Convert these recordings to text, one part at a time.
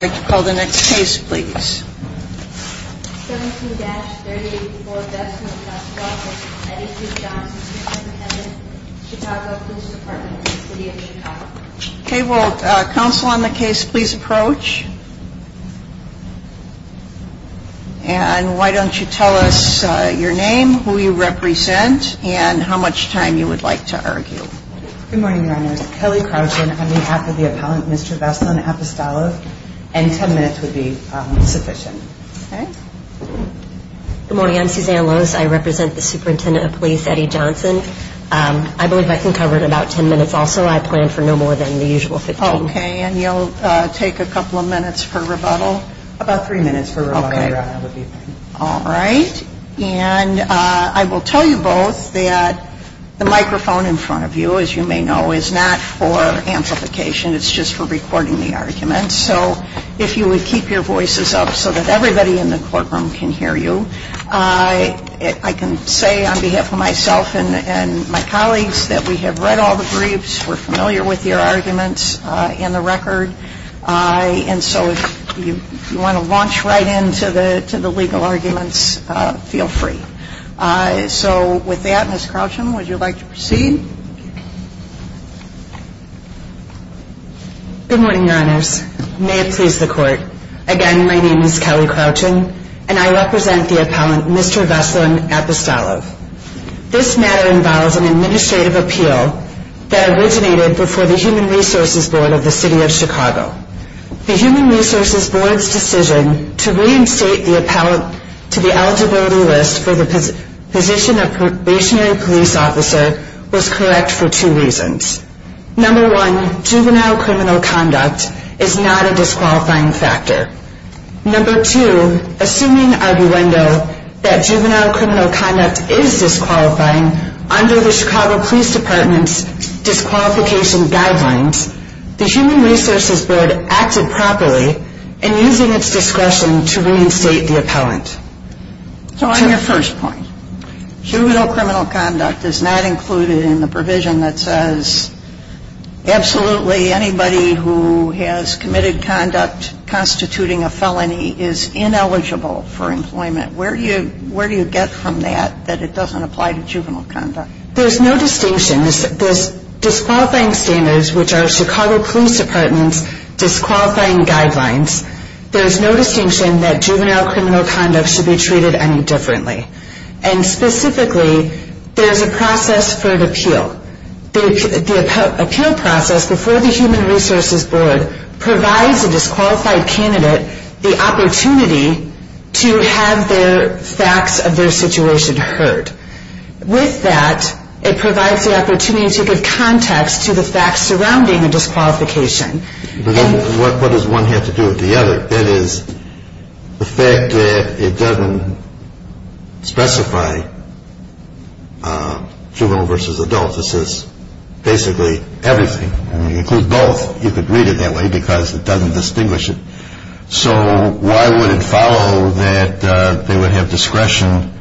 I'd like to call the next case, please. 17-384 Vestman v. Johnson v. Eddie C. Johnson, Superintendent, Chicago Police Department, City of Chicago. Okay, will counsel on the case please approach? And why don't you tell us your name, who you represent, and how much time you would like to argue. Good morning, your honors. Kelly Crouchen on behalf of the appellant, Mr. Vestman Apostolov. And ten minutes would be sufficient. Good morning, I'm Suzanne Lose. I represent the superintendent of police, Eddie Johnson. I believe I can cover about ten minutes also. I plan for no more than the usual fifteen. Okay, and you'll take a couple of minutes for rebuttal? About three minutes for rebuttal, your honor. All right, and I will tell you both that the microphone in front of you, as you may know, is not for amplification. It's just for recording the arguments. So if you would keep your voices up so that everybody in the courtroom can hear you. I can say on behalf of myself and my colleagues that we have read all the briefs, we're familiar with your arguments in the record. And so if you want to launch right into the legal arguments, feel free. So with that, Ms. Crouchen, would you like to proceed? Good morning, your honors. May it please the court. Again, my name is Kelly Crouchen, and I represent the appellant, Mr. Vestman Apostolov. This matter involves an administrative appeal that originated before the Human Resources Board of the City of Chicago. The Human Resources Board's decision to reinstate the appellant to the eligibility list for the position of probationary police officer was correct for two reasons. Number one, juvenile criminal conduct is not a disqualifying factor. Number two, assuming arguendo that juvenile criminal conduct is disqualifying under the Chicago Police Department's disqualification guidelines, the Human Resources Board acted properly in using its discretion to reinstate the appellant. So on your first point, juvenile criminal conduct is not included in the provision that says absolutely anybody who has committed conduct constituting a felony is ineligible for employment. Where do you get from that, that it doesn't apply to juvenile conduct? There's no distinction. There's disqualifying standards, which are Chicago Police Department's disqualifying guidelines. There's no distinction that juvenile criminal conduct should be treated any differently. And specifically, there's a process for an appeal. The appeal process before the Human Resources Board provides a disqualified candidate the opportunity to have their facts of their situation heard. With that, it provides the opportunity to give context to the facts surrounding the disqualification. What does one have to do with the other? That is, the fact that it doesn't specify juvenile versus adult. This is basically everything. I mean, it includes both. You could read it that way because it doesn't distinguish it. So why would it follow that they would have discretion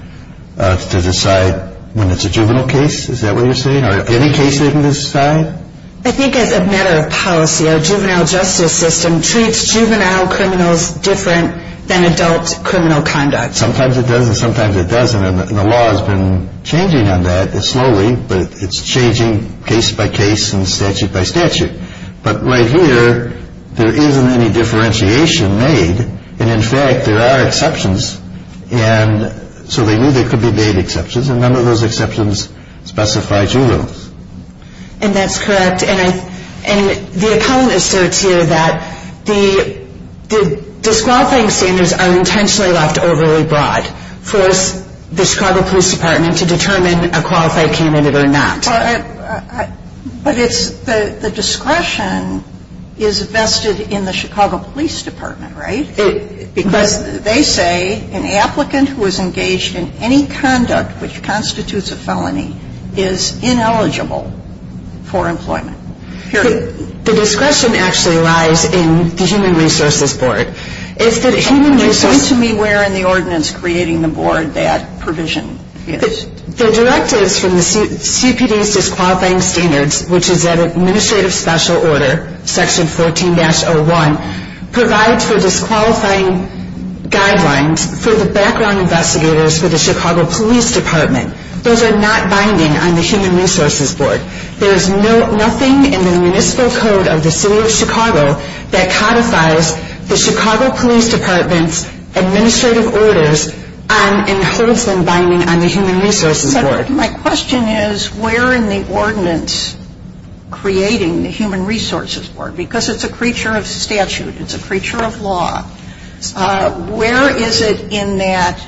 to decide when it's a juvenile case? Is that what you're saying? Or any case they can decide? I think as a matter of policy, our juvenile justice system treats juvenile criminals different than adult criminal conduct. Sometimes it does and sometimes it doesn't. And the law has been changing on that slowly. But it's changing case by case and statute by statute. But right here, there isn't any differentiation made. And in fact, there are exceptions. And so they knew there could be made exceptions. And none of those exceptions specify juveniles. And that's correct. And the economist asserts here that the disqualifying standards are intentionally left overly broad for the Chicago Police Department to determine a qualified candidate or not. But the discretion is vested in the Chicago Police Department, right? Because they say an applicant who is engaged in any conduct which constitutes a felony is ineligible for employment. Period. The discretion actually lies in the Human Resources Board. It's the Human Resources Board. It seems to me we're in the ordinance creating the board that provision is. The directives from the CPD's disqualifying standards, which is at Administrative Special Order, Section 14-01, provides for disqualifying guidelines for the background investigators for the Chicago Police Department. Those are not binding on the Human Resources Board. There is nothing in the Municipal Code of the City of Chicago that codifies the Chicago Police Department's administrative orders and holds them binding on the Human Resources Board. But my question is where in the ordinance creating the Human Resources Board, because it's a creature of statute, it's a creature of law, where is it in that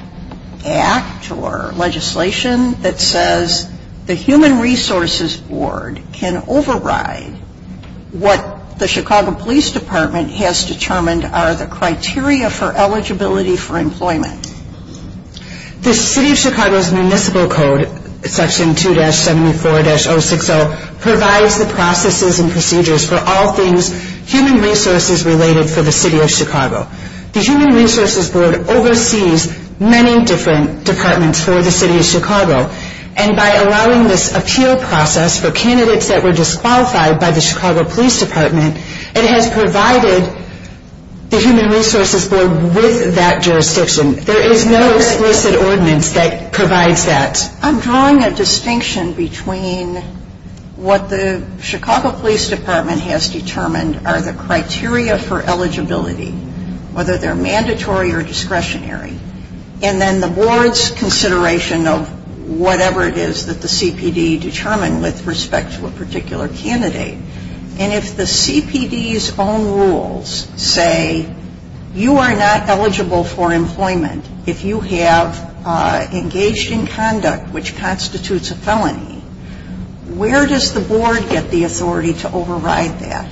act or legislation that says the Human Resources Board can override what the Chicago Police Department has determined are the criteria for eligibility for employment? The City of Chicago's Municipal Code, Section 2-74-060, provides the processes and procedures for all things human resources related for the City of Chicago. The Human Resources Board oversees many different departments for the City of Chicago. And by allowing this appeal process for candidates that were disqualified by the Chicago Police Department, it has provided the Human Resources Board with that jurisdiction. There is no explicit ordinance that provides that. I'm drawing a distinction between what the Chicago Police Department has determined are the criteria for eligibility, whether they're mandatory or discretionary, and then the Board's consideration of whatever it is that the CPD determined with respect to a particular candidate. And if the CPD's own rules say you are not eligible for employment if you have engaged in conduct which constitutes a felony, where does the Board get the authority to override that?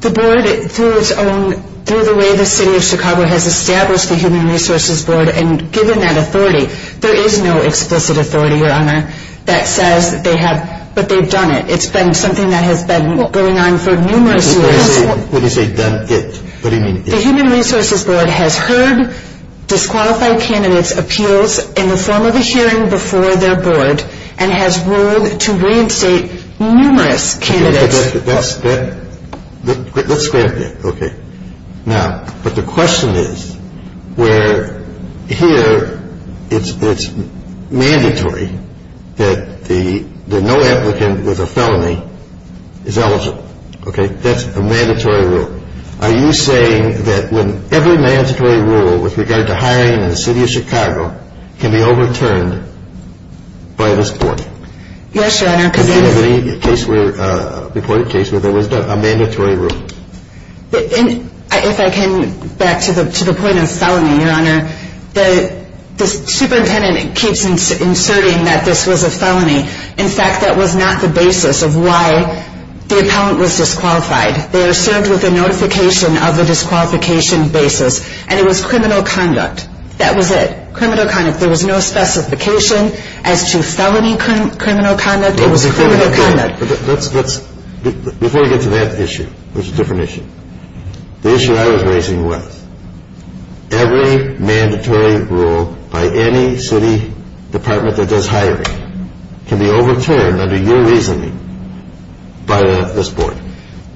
The Board, through its own, through the way the City of Chicago has established the Human Resources Board, and given that authority, there is no explicit authority, Your Honor, that says that they have, but they've done it. It's been something that has been going on for numerous years. When you say done it, what do you mean it? The Human Resources Board has heard disqualified candidates' appeals in the form of a hearing before their Board and has ruled to reinstate numerous candidates. Let's scrap that. Okay. Now, but the question is where here it's mandatory that no applicant with a felony is eligible. Okay. That's a mandatory rule. Are you saying that when every mandatory rule with regard to hiring in the City of Chicago can be overturned by this Court? Yes, Your Honor. Did you have any case where, a reported case where there was a mandatory rule? If I can, back to the point of felony, Your Honor, the superintendent keeps inserting that this was a felony. In fact, that was not the basis of why the appellant was disqualified. They are served with a notification of the disqualification basis, and it was criminal conduct. That was it, criminal conduct. There was no specification as to felony criminal conduct. It was criminal conduct. Before we get to that issue, which is a different issue, the issue I was raising was every mandatory rule by any city department that does hiring can be overturned under your reasoning by this Board.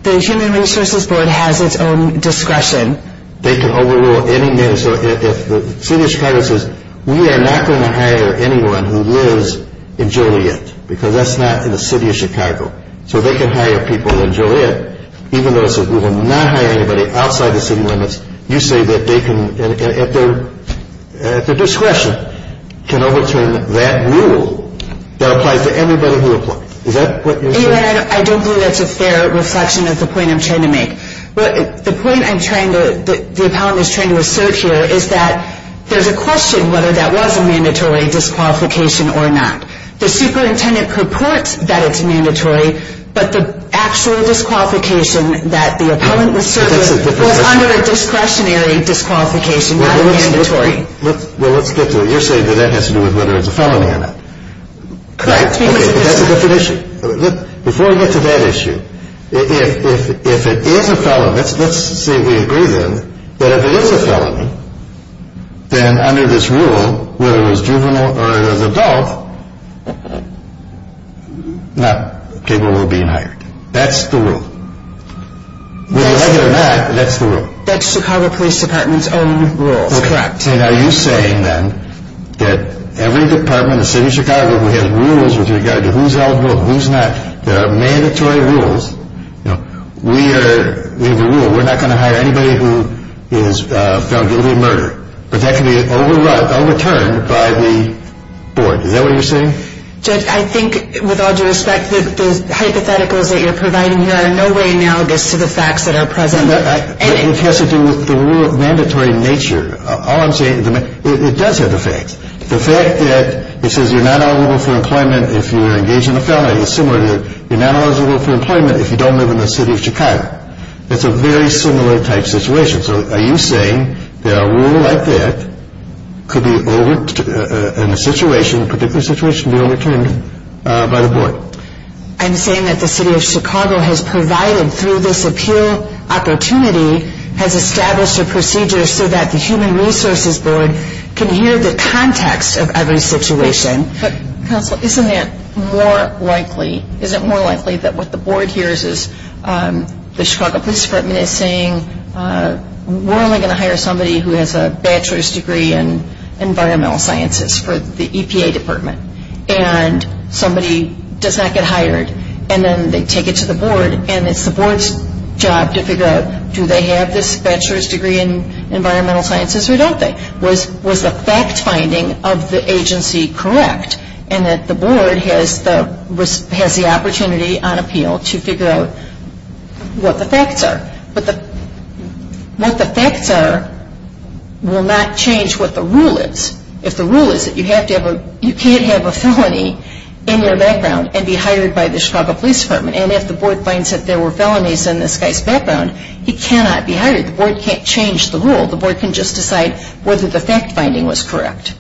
The Human Resources Board has its own discretion. They can overrule any mandatory rule. If the City of Chicago says, we are not going to hire anyone who lives in Joliet, because that's not in the City of Chicago, so they can hire people in Joliet, even though it says we will not hire anybody outside the city limits, you say that they can, at their discretion, can overturn that rule that applies to everybody who applies. Is that what you're saying? I don't think that's a fair reflection of the point I'm trying to make. The point the appellant is trying to assert here is that there's a question whether that was a mandatory disqualification or not. The superintendent purports that it's mandatory, but the actual disqualification that the appellant was served with was under a discretionary disqualification, not a mandatory. Well, let's get to it. You're saying that that has to do with whether it's a felony or not. Correct. Okay, but that's a different issue. Before we get to that issue, if it is a felony, let's say we agree then, that if it is a felony, then under this rule, whether it was juvenile or it was adult, not capable of being hired. That's the rule. Whether you like it or not, that's the rule. That's Chicago Police Department's own rules, correct. Are you saying then that every department in the city of Chicago who has rules with regard to who's eligible, who's not, there are mandatory rules. We have a rule. We're not going to hire anybody who is found guilty of murder, but that can be overturned by the board. Is that what you're saying? Judge, I think, with all due respect, the hypotheticals that you're providing here are in no way analogous to the facts that are present. It has to do with the rule of mandatory nature. All I'm saying is it does have the facts. The fact that it says you're not eligible for employment if you're engaged in a felony is similar to you're not eligible for employment if you don't live in the city of Chicago. It's a very similar type situation. So are you saying that a rule like that could be overturned in a particular situation by the board? I'm saying that the city of Chicago has provided through this appeal opportunity, has established a procedure so that the Human Resources Board can hear the context of every situation. Counsel, isn't it more likely, is it more likely that what the board hears is the Chicago Police Department is saying we're only going to hire somebody who has a bachelor's degree in environmental sciences for the EPA department and somebody does not get hired and then they take it to the board and it's the board's job to figure out do they have this bachelor's degree in environmental sciences or don't they? Was the fact finding of the agency correct? And that the board has the opportunity on appeal to figure out what the facts are. But what the facts are will not change what the rule is. If the rule is that you can't have a felony in your background and be hired by the Chicago Police Department and if the board finds that there were felonies in this guy's background, he cannot be hired. The board can't change the rule. The board can just decide whether the fact finding was correct.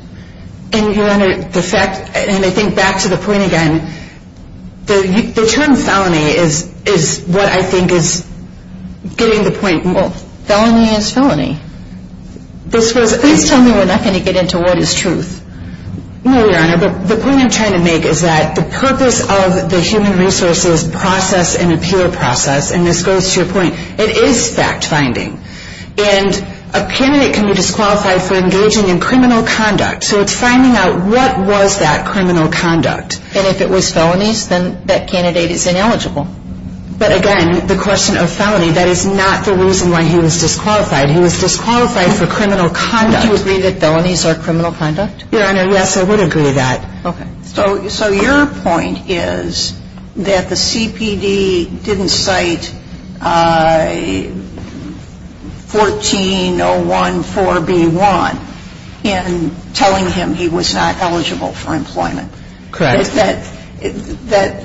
And Your Honor, the fact, and I think back to the point again, the term felony is what I think is getting the point. Well, felony is felony. This was Please tell me we're not going to get into what is truth. No, Your Honor, but the point I'm trying to make is that the purpose of the human resources process and appeal process, and this goes to your point, it is fact finding. And a candidate can be disqualified for engaging in criminal conduct. So it's finding out what was that criminal conduct. And if it was felonies, then that candidate is ineligible. But again, the question of felony, that is not the reason why he was disqualified. He was disqualified for criminal conduct. Would you agree that felonies are criminal conduct? Your Honor, yes, I would agree to that. Okay. So your point is that the CPD didn't cite 14-01-4-B-1 in telling him he was not eligible for employment. Correct. That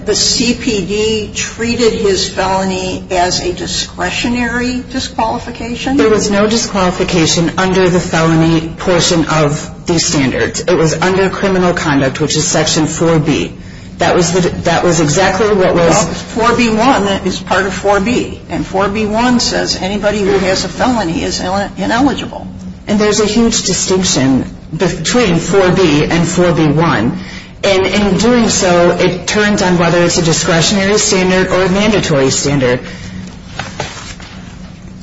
the CPD treated his felony as a discretionary disqualification? There was no disqualification under the felony portion of these standards. It was under criminal conduct, which is Section 4-B. That was exactly what was Well, 4-B-1 is part of 4-B, and 4-B-1 says anybody who has a felony is ineligible. And there's a huge distinction between 4-B and 4-B-1. And in doing so, it turns on whether it's a discretionary standard or a mandatory standard.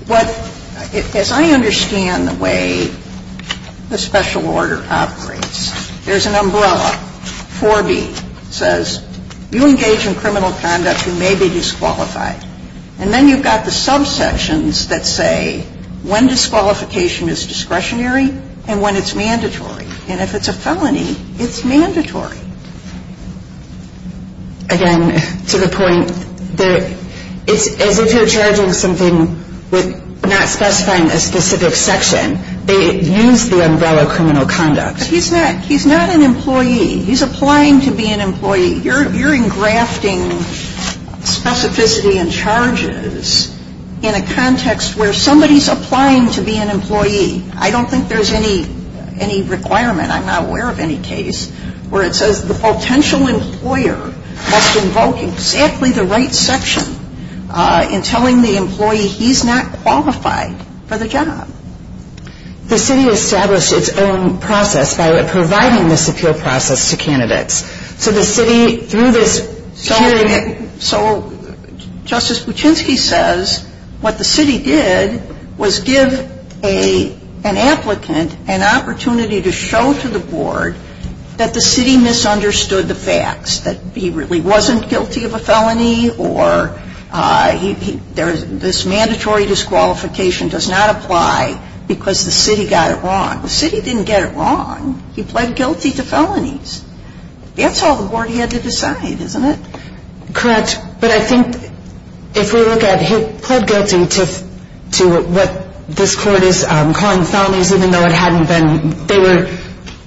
But as I understand the way the special order operates, there's an umbrella. 4-B says you engage in criminal conduct who may be disqualified. And then you've got the subsections that say when disqualification is discretionary and when it's mandatory. And if it's a felony, it's mandatory. Again, to the point, it's as if you're charging something with not specifying a specific section. They use the umbrella criminal conduct. He's not an employee. He's applying to be an employee. You're engrafting specificity and charges in a context where somebody's applying to be an employee. I don't think there's any requirement. I'm not aware of any case where it says the potential employer has to invoke exactly the right section in telling the employee he's not qualified for the job. The city established its own process by providing this appeal process to candidates. So the city, through this hearing. So Justice Kuczynski says what the city did was give an applicant an opportunity to show to the board that the city misunderstood the facts, that he really wasn't guilty of a felony or this mandatory disqualification does not apply because the city got it wrong. The city didn't get it wrong. He pled guilty to felonies. That's all the board had to decide, isn't it? Correct. But I think if we look at he pled guilty to what this court is calling felonies, even though they were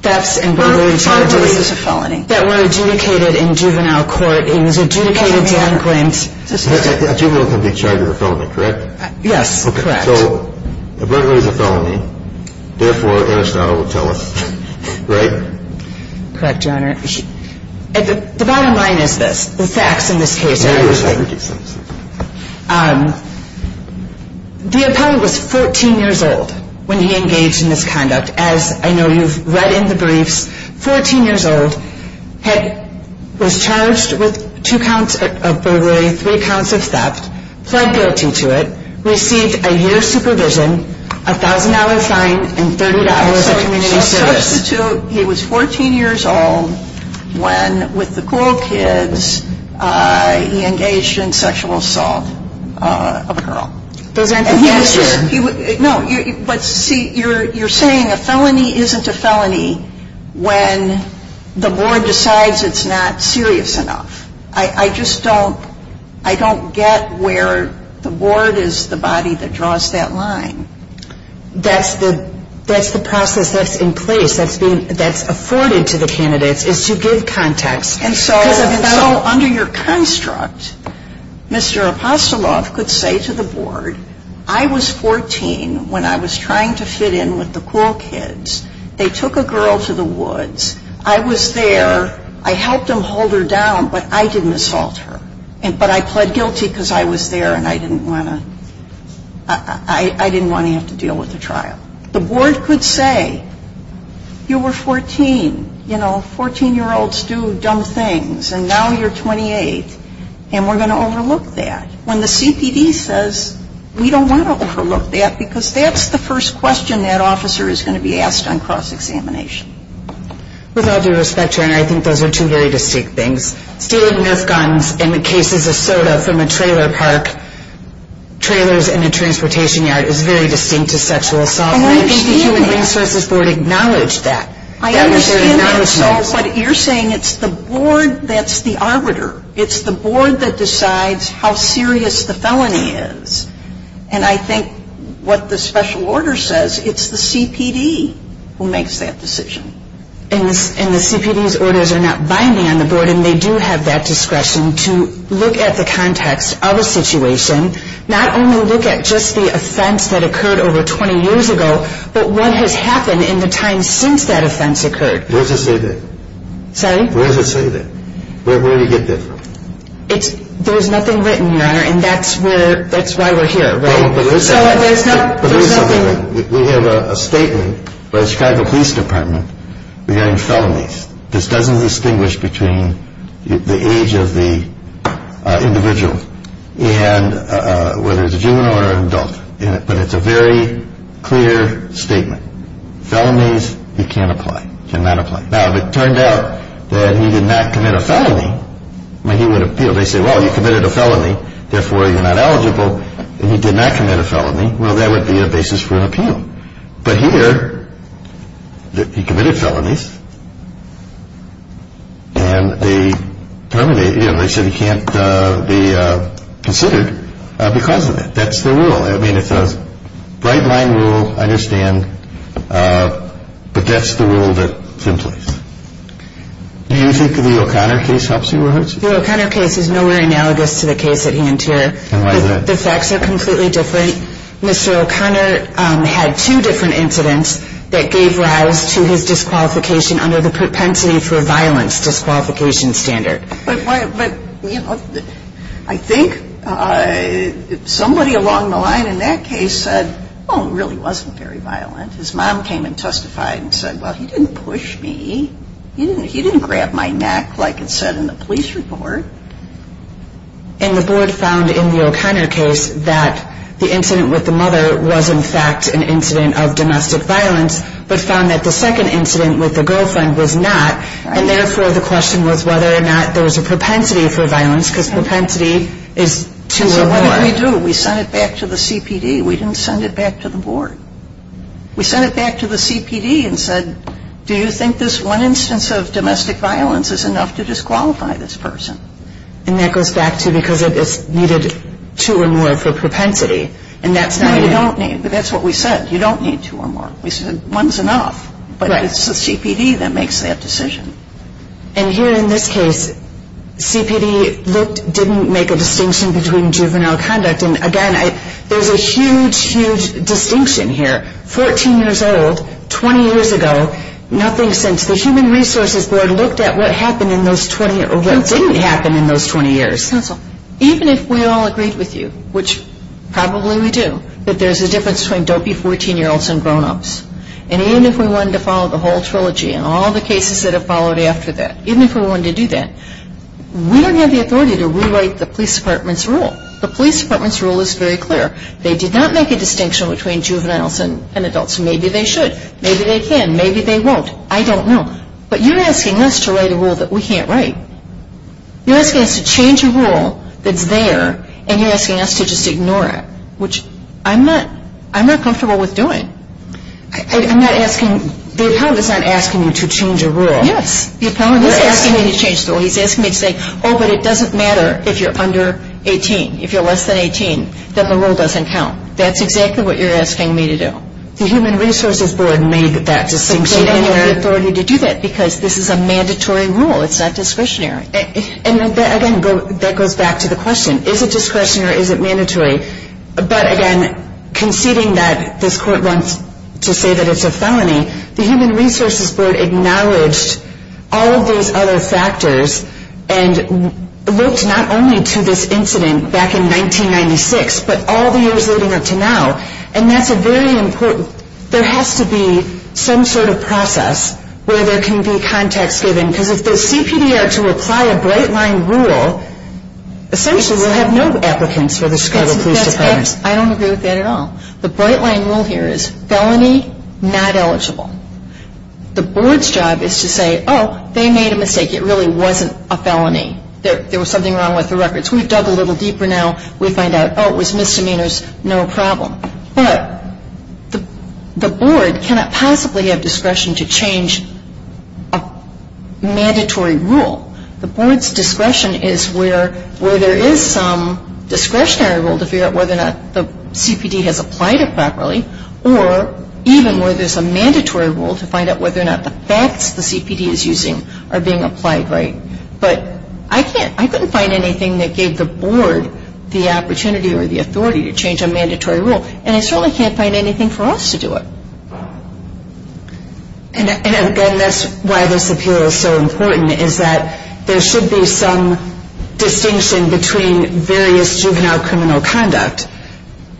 thefts and burglary charges that were adjudicated in juvenile court. It was adjudicated to unclaimed. A juvenile can be charged with a felony, correct? Yes, correct. So a burglary is a felony. Therefore, Anastata will tell us, right? Correct, Your Honor. The bottom line is this. The facts in this case are interesting. The applicant was 14 years old when he engaged in this conduct. As I know you've read in the briefs, 14 years old, was charged with two counts of burglary, three counts of theft, pled guilty to it, received a year's supervision, a $1,000 fine, and 38 hours of community service. He was 14 years old when, with the cruel kids, he engaged in sexual assault of a girl. Those aren't the cases. No. But see, you're saying a felony isn't a felony when the board decides it's not serious enough. I just don't get where the board is the body that draws that line. That's the process that's in place, that's afforded to the candidates, is to give context. And so under your construct, Mr. Apostoloff could say to the board, I was 14 when I was trying to fit in with the cruel kids. They took a girl to the woods. I was there. I helped him hold her down, but I didn't assault her. But I pled guilty because I was there, and I didn't want to have to deal with the trial. The board could say, you were 14. You know, 14-year-olds do dumb things, and now you're 28, and we're going to overlook that. When the CPD says, we don't want to overlook that, because that's the first question that officer is going to be asked on cross-examination. With all due respect, Your Honor, I think those are two very distinct things. Stealing Nerf guns and cases of soda from a trailer park, trailers in a transportation yard, is very distinct to sexual assault. I think the Human Resources Board acknowledged that. I understand that, but you're saying it's the board that's the arbiter. It's the board that decides how serious the felony is. And I think what the special order says, it's the CPD who makes that decision. And the CPD's orders are not binding on the board, and they do have that discretion to look at the context of a situation, not only look at just the offense that occurred over 20 years ago, but what has happened in the time since that offense occurred. Where does it say that? Sorry? Where does it say that? Where do you get that from? There's nothing written, Your Honor, and that's why we're here, right? We have a statement by the Chicago Police Department regarding felonies. This doesn't distinguish between the age of the individual, whether it's a juvenile or an adult, but it's a very clear statement. Felonies, he can't apply, cannot apply. Now, if it turned out that he did not commit a felony, he would appeal. They say, well, you committed a felony, therefore you're not eligible. If he did not commit a felony, well, that would be a basis for an appeal. But here, he committed felonies, and they said he can't be considered because of it. That's the rule. I mean, it's a bright-line rule, I understand, but that's the rule that's in place. Do you think the O'Connor case helps you or hurts you? The O'Connor case is nowhere analogous to the case at Hantier. The facts are completely different. Mr. O'Connor had two different incidents that gave rise to his disqualification under the propensity for violence disqualification standard. But, you know, I think somebody along the line in that case said, oh, it really wasn't very violent. His mom came and testified and said, well, he didn't push me. He didn't grab my neck like it said in the police report. And the board found in the O'Connor case that the incident with the mother was, in fact, an incident of domestic violence, but found that the second incident with the girlfriend was not. And, therefore, the question was whether or not there was a propensity for violence because propensity is two or more. So what did we do? We sent it back to the CPD. We didn't send it back to the board. We sent it back to the CPD and said, do you think this one instance of domestic violence is enough to disqualify this person? And that goes back to because it is needed two or more for propensity, and that's not enough. No, you don't need. That's what we said. You don't need two or more. We said one's enough, but it's the CPD that makes that decision. And here in this case, CPD didn't make a distinction between juvenile conduct. And, again, there's a huge, huge distinction here. Fourteen years old, 20 years ago, nothing since. The Human Resources Board looked at what happened in those 20 or what didn't happen in those 20 years. Counsel, even if we all agreed with you, which probably we do, that there's a difference between dopey 14-year-olds and grown-ups, and even if we wanted to follow the whole trilogy and all the cases that have followed after that, even if we wanted to do that, we don't have the authority to rewrite the police department's rule. The police department's rule is very clear. They did not make a distinction between juveniles and adults. Maybe they should. Maybe they can. Maybe they won't. I don't know. But you're asking us to write a rule that we can't write. You're asking us to change a rule that's there, and you're asking us to just ignore it, which I'm not comfortable with doing. I'm not asking – the appellant is not asking you to change a rule. Yes. The appellant is asking me to change the rule. He's asking me to say, oh, but it doesn't matter if you're under 18, if you're less than 18, that the rule doesn't count. That's exactly what you're asking me to do. The Human Resources Board made that distinction. But you don't have the authority to do that because this is a mandatory rule. It's not discretionary. And, again, that goes back to the question. Is it discretionary or is it mandatory? But, again, conceding that this court wants to say that it's a felony, the Human Resources Board acknowledged all of those other factors and looked not only to this incident back in 1996 but all the years leading up to now. And that's a very important – there has to be some sort of process where there can be context given. Because if the CPD are to apply a bright-line rule, essentially we'll have no applicants for the Chicago Police Department. I don't agree with that at all. The bright-line rule here is felony, not eligible. The board's job is to say, oh, they made a mistake. It really wasn't a felony. There was something wrong with the records. We've dug a little deeper now. We find out, oh, it was misdemeanors, no problem. But the board cannot possibly have discretion to change a mandatory rule. The board's discretion is where there is some discretionary rule to figure out whether or not the CPD has applied it properly or even where there's a mandatory rule to find out whether or not the facts the CPD is using are being applied right. But I couldn't find anything that gave the board the opportunity or the authority to change a mandatory rule. And I certainly can't find anything for us to do it. And that's why this appeal is so important, is that there should be some distinction between various juvenile criminal conduct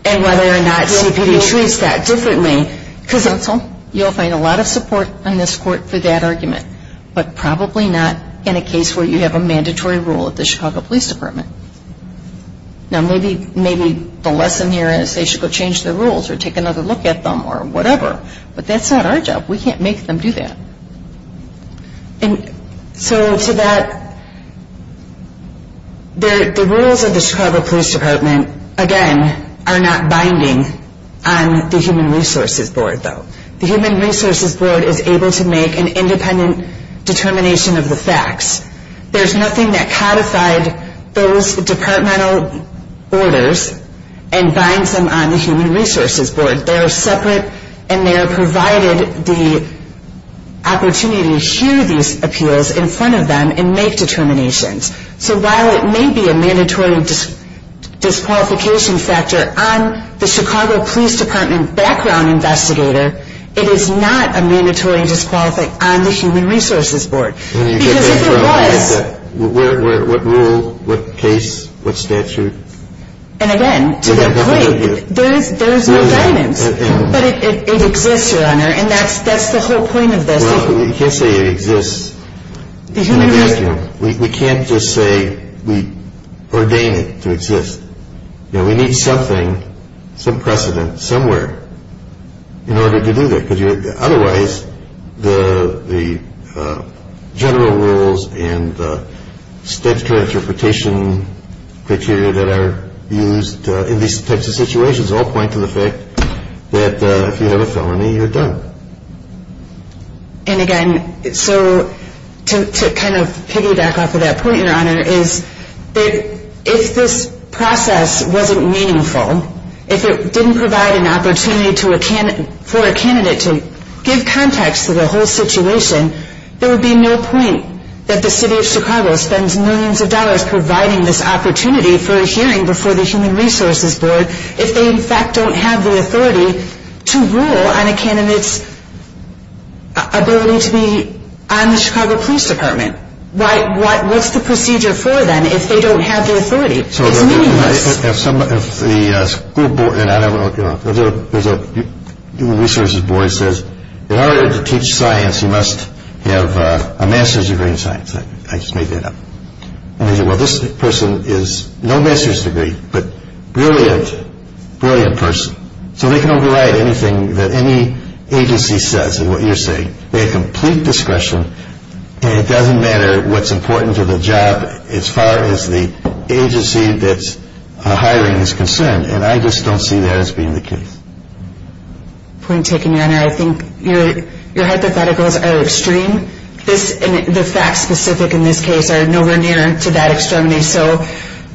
and whether or not CPD treats that differently. Counsel, you'll find a lot of support on this Court for that argument, but probably not in a case where you have a mandatory rule at the Chicago Police Department. Now, maybe the lesson here is they should go change the rules or take another look at them or whatever, but that's not our job. We can't make them do that. And so to that, the rules of the Chicago Police Department, again, are not binding on the Human Resources Board, though. The Human Resources Board is able to make an independent determination of the facts. There's nothing that codified those departmental orders and binds them on the Human Resources Board. They are separate and they are provided the opportunity to hear these appeals in front of them and make determinations. So while it may be a mandatory disqualification factor on the Chicago Police Department background investigator, it is not a mandatory disqualification on the Human Resources Board. Because if it was... What rule, what case, what statute? And, again, to their point, there is no guidance. But it exists, Your Honor, and that's the whole point of this. Well, you can't say it exists. We can't just say we ordain it to exist. We need something, some precedent somewhere in order to do that. Because otherwise the general rules and the statutory interpretation criteria that are used in these types of situations all point to the fact that if you have a felony, you're done. And, again, so to kind of piggyback off of that point, Your Honor, is that if this process wasn't meaningful, if it didn't provide an opportunity for a candidate to give context to the whole situation, there would be no point that the City of Chicago spends millions of dollars providing this opportunity for a hearing before the Human Resources Board if they, in fact, don't have the authority to rule on a candidate's ability to be on the Chicago Police Department. What's the procedure for them if they don't have the authority? It's meaningless. So if the school board, and I don't know, if there's a Human Resources Board that says, in order to teach science, you must have a master's degree in science. I just made that up. And they say, well, this person has no master's degree, but brilliant, brilliant person. So they can override anything that any agency says is what you're saying. They have complete discretion, and it doesn't matter what's important to the job as far as the agency that's hiring is concerned. And I just don't see that as being the case. Point taken, Your Honor. I think your hypotheticals are extreme. The facts specific in this case are nowhere near to that extremity.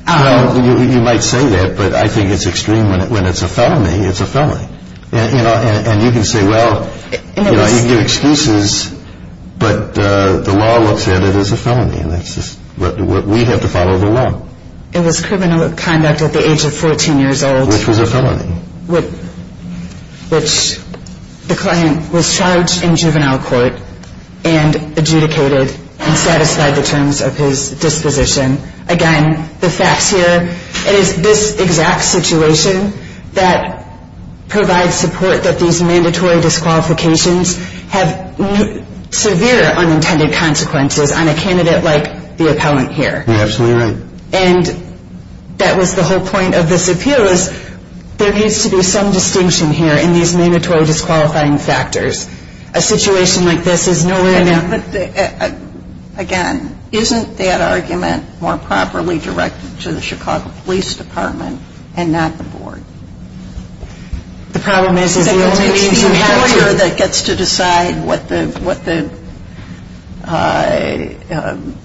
Well, you might say that, but I think it's extreme when it's a felony. It's a felony. And you can say, well, you can give excuses, but the law looks at it as a felony. We have to follow the law. It was criminal conduct at the age of 14 years old. Which was a felony. Which the client was charged in juvenile court and adjudicated and satisfied the terms of his disposition. Again, the facts here, it is this exact situation that provides support that these mandatory disqualifications have severe unintended consequences on a candidate like the appellant here. You're absolutely right. And that was the whole point of this appeal is there needs to be some distinction here in these mandatory disqualifying factors. A situation like this is nowhere near. But, again, isn't that argument more properly directed to the Chicago Police Department and not the board? The problem is the only means you have to. It's the employer that gets to decide what the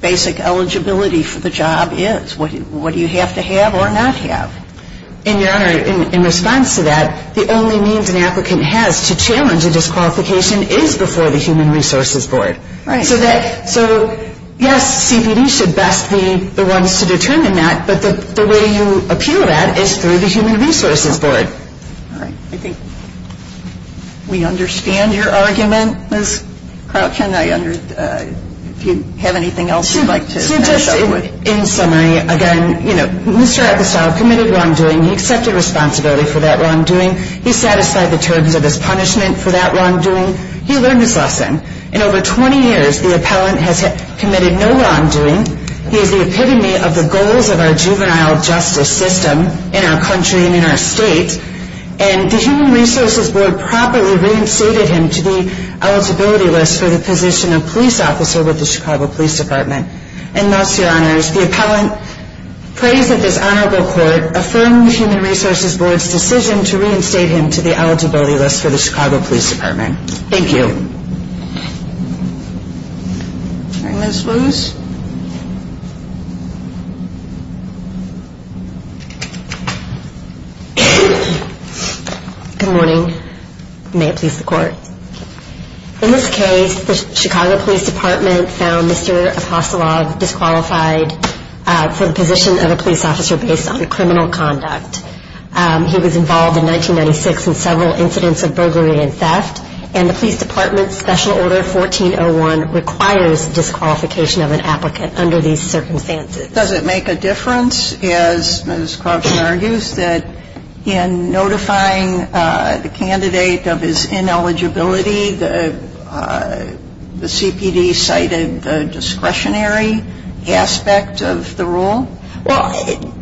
basic eligibility for the job is. What do you have to have or not have? And, Your Honor, in response to that, the only means an applicant has to challenge a disqualification is before the Human Resources Board. Right. So, yes, CPD should best be the ones to determine that. But the way you appeal that is through the Human Resources Board. All right. I think we understand your argument, Ms. Crouch. If you have anything else you'd like to finish up with. So just in summary, again, you know, Mr. Atkissar committed wrongdoing. He accepted responsibility for that wrongdoing. He satisfied the terms of his punishment for that wrongdoing. He learned his lesson. In over 20 years, the appellant has committed no wrongdoing. He is the epitome of the goals of our juvenile justice system in our country and in our state. And the Human Resources Board properly reinstated him to the eligibility list for the position of police officer with the Chicago Police Department. And thus, Your Honors, the appellant prays that this honorable court affirm the Human Resources Board's decision to reinstate him to the eligibility list for the Chicago Police Department. Thank you. Ms. Lewis. Good morning. May it please the Court. In this case, the Chicago Police Department found Mr. Apostolov disqualified for the position of a police officer based on criminal conduct. He was involved in 1996 in several incidents of burglary and theft. And the police department's Special Order 1401 requires disqualification of an applicant under these circumstances. Does it make a difference, as Ms. Croftson argues, that in notifying the candidate of his ineligibility, the CPD cited the discretionary aspect of the rule? Well,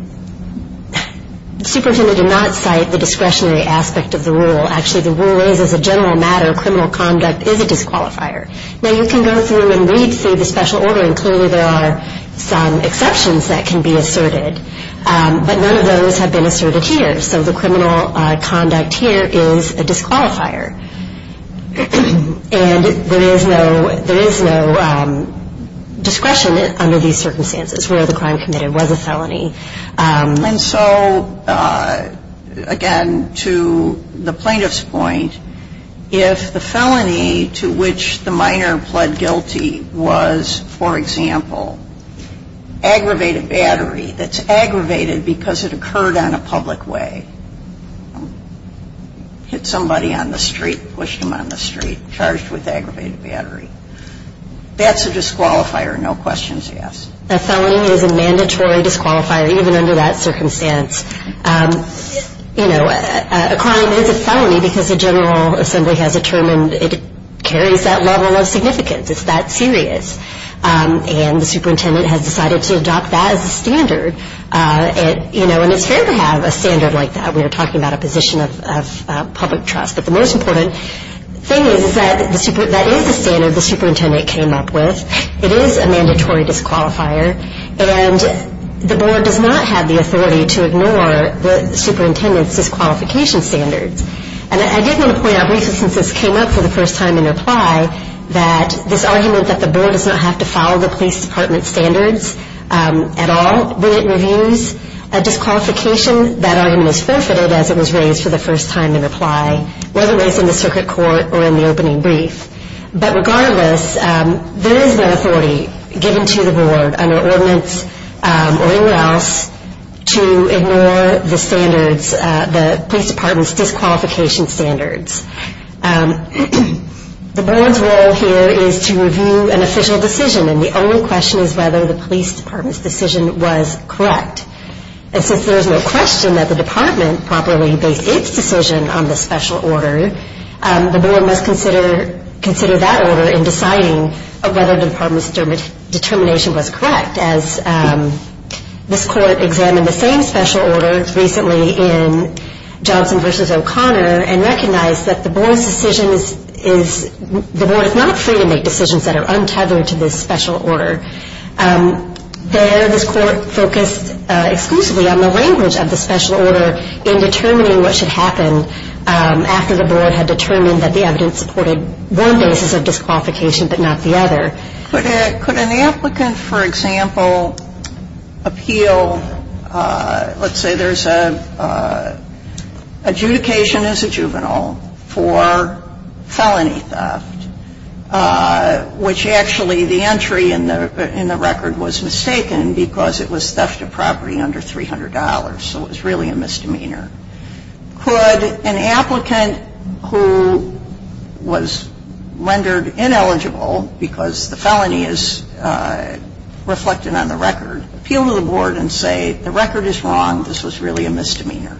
Superintendent did not cite the discretionary aspect of the rule. Actually, the rule is, as a general matter, criminal conduct is a disqualifier. Now, you can go through and read through the Special Order, and clearly there are some exceptions that can be asserted. But none of those have been asserted here. So the criminal conduct here is a disqualifier. And there is no discretion under these circumstances where the crime committed was a felony. And so, again, to the plaintiff's point, if the felony to which the minor pled guilty was, for example, aggravated battery that's aggravated because it occurred on a public way, hit somebody on the street, pushed them on the street, charged with aggravated battery, that's a disqualifier, no questions asked. A felony is a mandatory disqualifier, even under that circumstance. You know, a crime is a felony because the General Assembly has determined it carries that level of significance, it's that serious. And the superintendent has decided to adopt that as a standard. You know, and it's fair to have a standard like that. We are talking about a position of public trust. But the most important thing is that that is a standard the superintendent came up with. It is a mandatory disqualifier. And the board does not have the authority to ignore the superintendent's disqualification standards. And I did want to point out briefly, since this came up for the first time in reply, that this argument that the board does not have to follow the police department's standards at all when it reviews a disqualification, that argument is forfeited as it was raised for the first time in reply, whether it was in the circuit court or in the opening brief. But regardless, there is no authority given to the board under ordinance or anywhere else to ignore the standards, the police department's disqualification standards. The board's role here is to review an official decision, and the only question is whether the police department's decision was correct. And since there is no question that the department properly based its decision on the special order, the board must consider that order in deciding whether the department's determination was correct. As this court examined the same special order recently in Johnson v. O'Connor and recognized that the board is not free to make decisions that are untethered to this special order. There, this court focused exclusively on the language of the special order in determining what should happen after the board had determined that the evidence supported one basis of disqualification but not the other. Could an applicant, for example, appeal, let's say there's an adjudication as a juvenile for felony theft, which actually the entry in the record was mistaken because it was theft of property under $300. So it was really a misdemeanor. Could an applicant who was rendered ineligible because the felony is reflected on the record, appeal to the board and say the record is wrong, this was really a misdemeanor?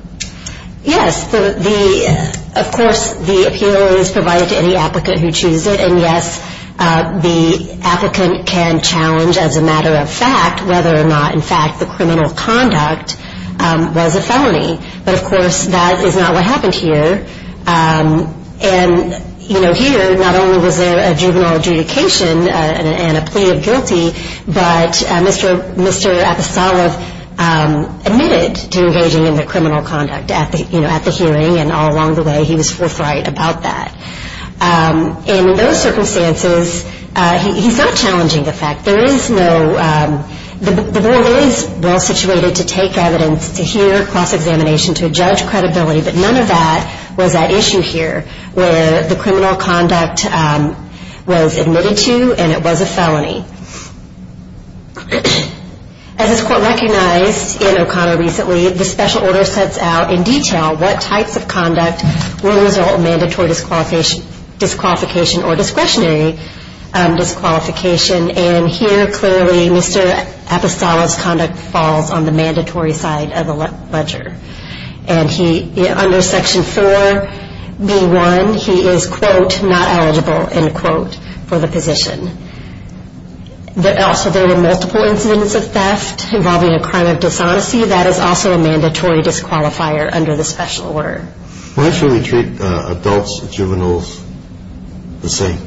Yes, of course the appeal is provided to any applicant who chooses it. And yes, the applicant can challenge as a matter of fact whether or not in fact the criminal conduct was a felony. But of course that is not what happened here. And here not only was there a juvenile adjudication and a plea of guilty, but Mr. Apasolov admitted to engaging in the criminal conduct at the hearing and all along the way he was forthright about that. And in those circumstances, he's not challenging the fact, there is no, the board is well situated to take evidence, to hear cross-examination, to judge credibility, but none of that was at issue here where the criminal conduct was admitted to and it was a felony. As this court recognized in O'Connor recently, the special order sets out in detail what types of conduct will result in mandatory disqualification or discretionary disqualification. And here clearly Mr. Apasolov's conduct falls on the mandatory side of the ledger. And he, under section 4B1, he is, quote, not eligible, end quote, for the position. Also there were multiple incidents of theft involving a crime of dishonesty. That is also a mandatory disqualifier under the special order. Why should we treat adults and juveniles the same?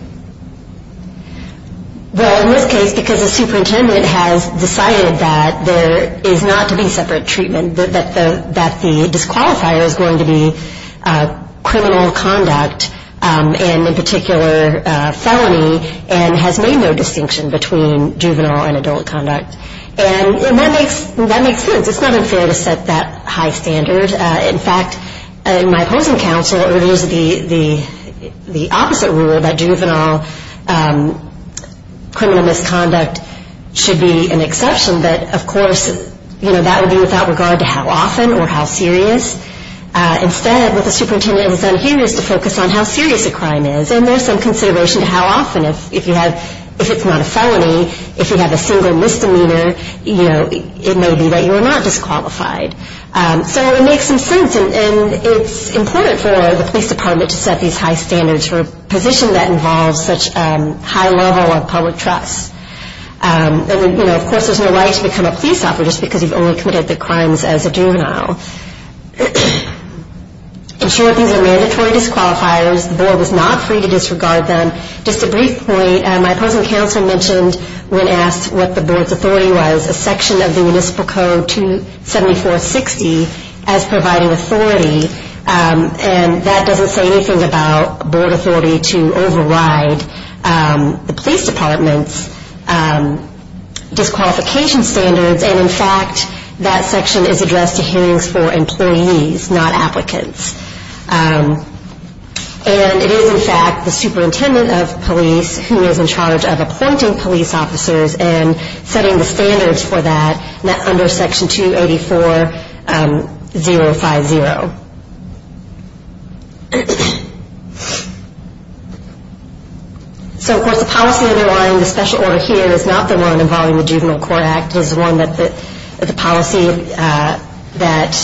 Well, in this case, because the superintendent has decided that there is not to be separate treatment, that the disqualifier is going to be criminal conduct and in particular felony and has made no distinction between juvenile and adult conduct. And that makes sense. It's not unfair to set that high standard. In fact, my opposing counsel urges the opposite rule, that juvenile criminal misconduct should be an exception, but of course that would be without regard to how often or how serious. Instead what the superintendent has done here is to focus on how serious a crime is and there's some consideration to how often. If it's not a felony, if you have a single misdemeanor, it may be that you are not disqualified. So it makes some sense and it's important for the police department to set these high standards for a position that involves such high level of public trust. And of course there's no right to become a police officer just because you've only committed the crimes as a juvenile. In short, these are mandatory disqualifiers. The board is not free to disregard them. Just a brief point, my opposing counsel mentioned when asked what the board's authority was, a section of the municipal code 27460 as providing authority and that doesn't say anything about board authority to override the police department's disqualification standards and in fact that section is addressed to hearings for employees, not applicants. And it is in fact the superintendent of police who is in charge of appointing police officers and setting the standards for that under section 284050. So of course the policy underlying the special order here is not the one involving the Juvenile Court Act. It is the one that the policy that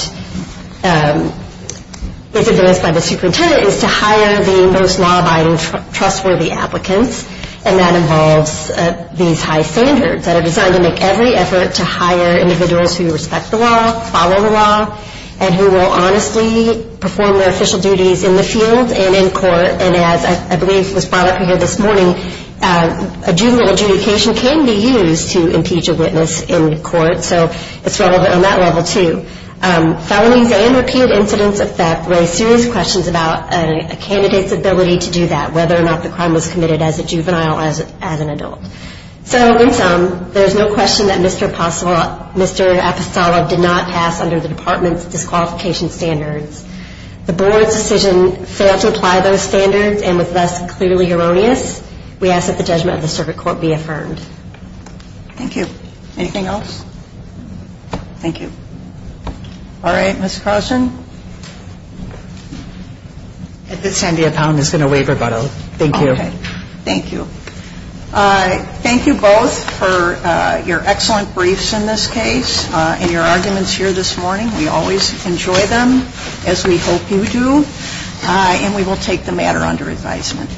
is advanced by the superintendent is to hire the most law-abiding, trustworthy applicants and that involves these high standards that are designed to make every effort to hire individuals who respect the law, follow the law, and who will honestly perform their official duties in the field and in court. And as I believe was brought up here this morning, a juvenile adjudication can be used to impeach a witness in court. So it's relevant on that level too. Felonies and repeated incidents of theft raise serious questions about a candidate's ability to do that, and whether or not the crime was committed as a juvenile or as an adult. So in sum, there is no question that Mr. Apostolov did not pass under the department's disqualification standards. The board's decision failed to apply those standards and was thus clearly erroneous. We ask that the judgment of the circuit court be affirmed. Thank you. Anything else? Thank you. All right. Ms. Carlson? Sandia Pound is going to waive rebuttal. Thank you. Thank you. Thank you both for your excellent briefs in this case and your arguments here this morning. We always enjoy them, as we hope you do, and we will take the matter under advisement.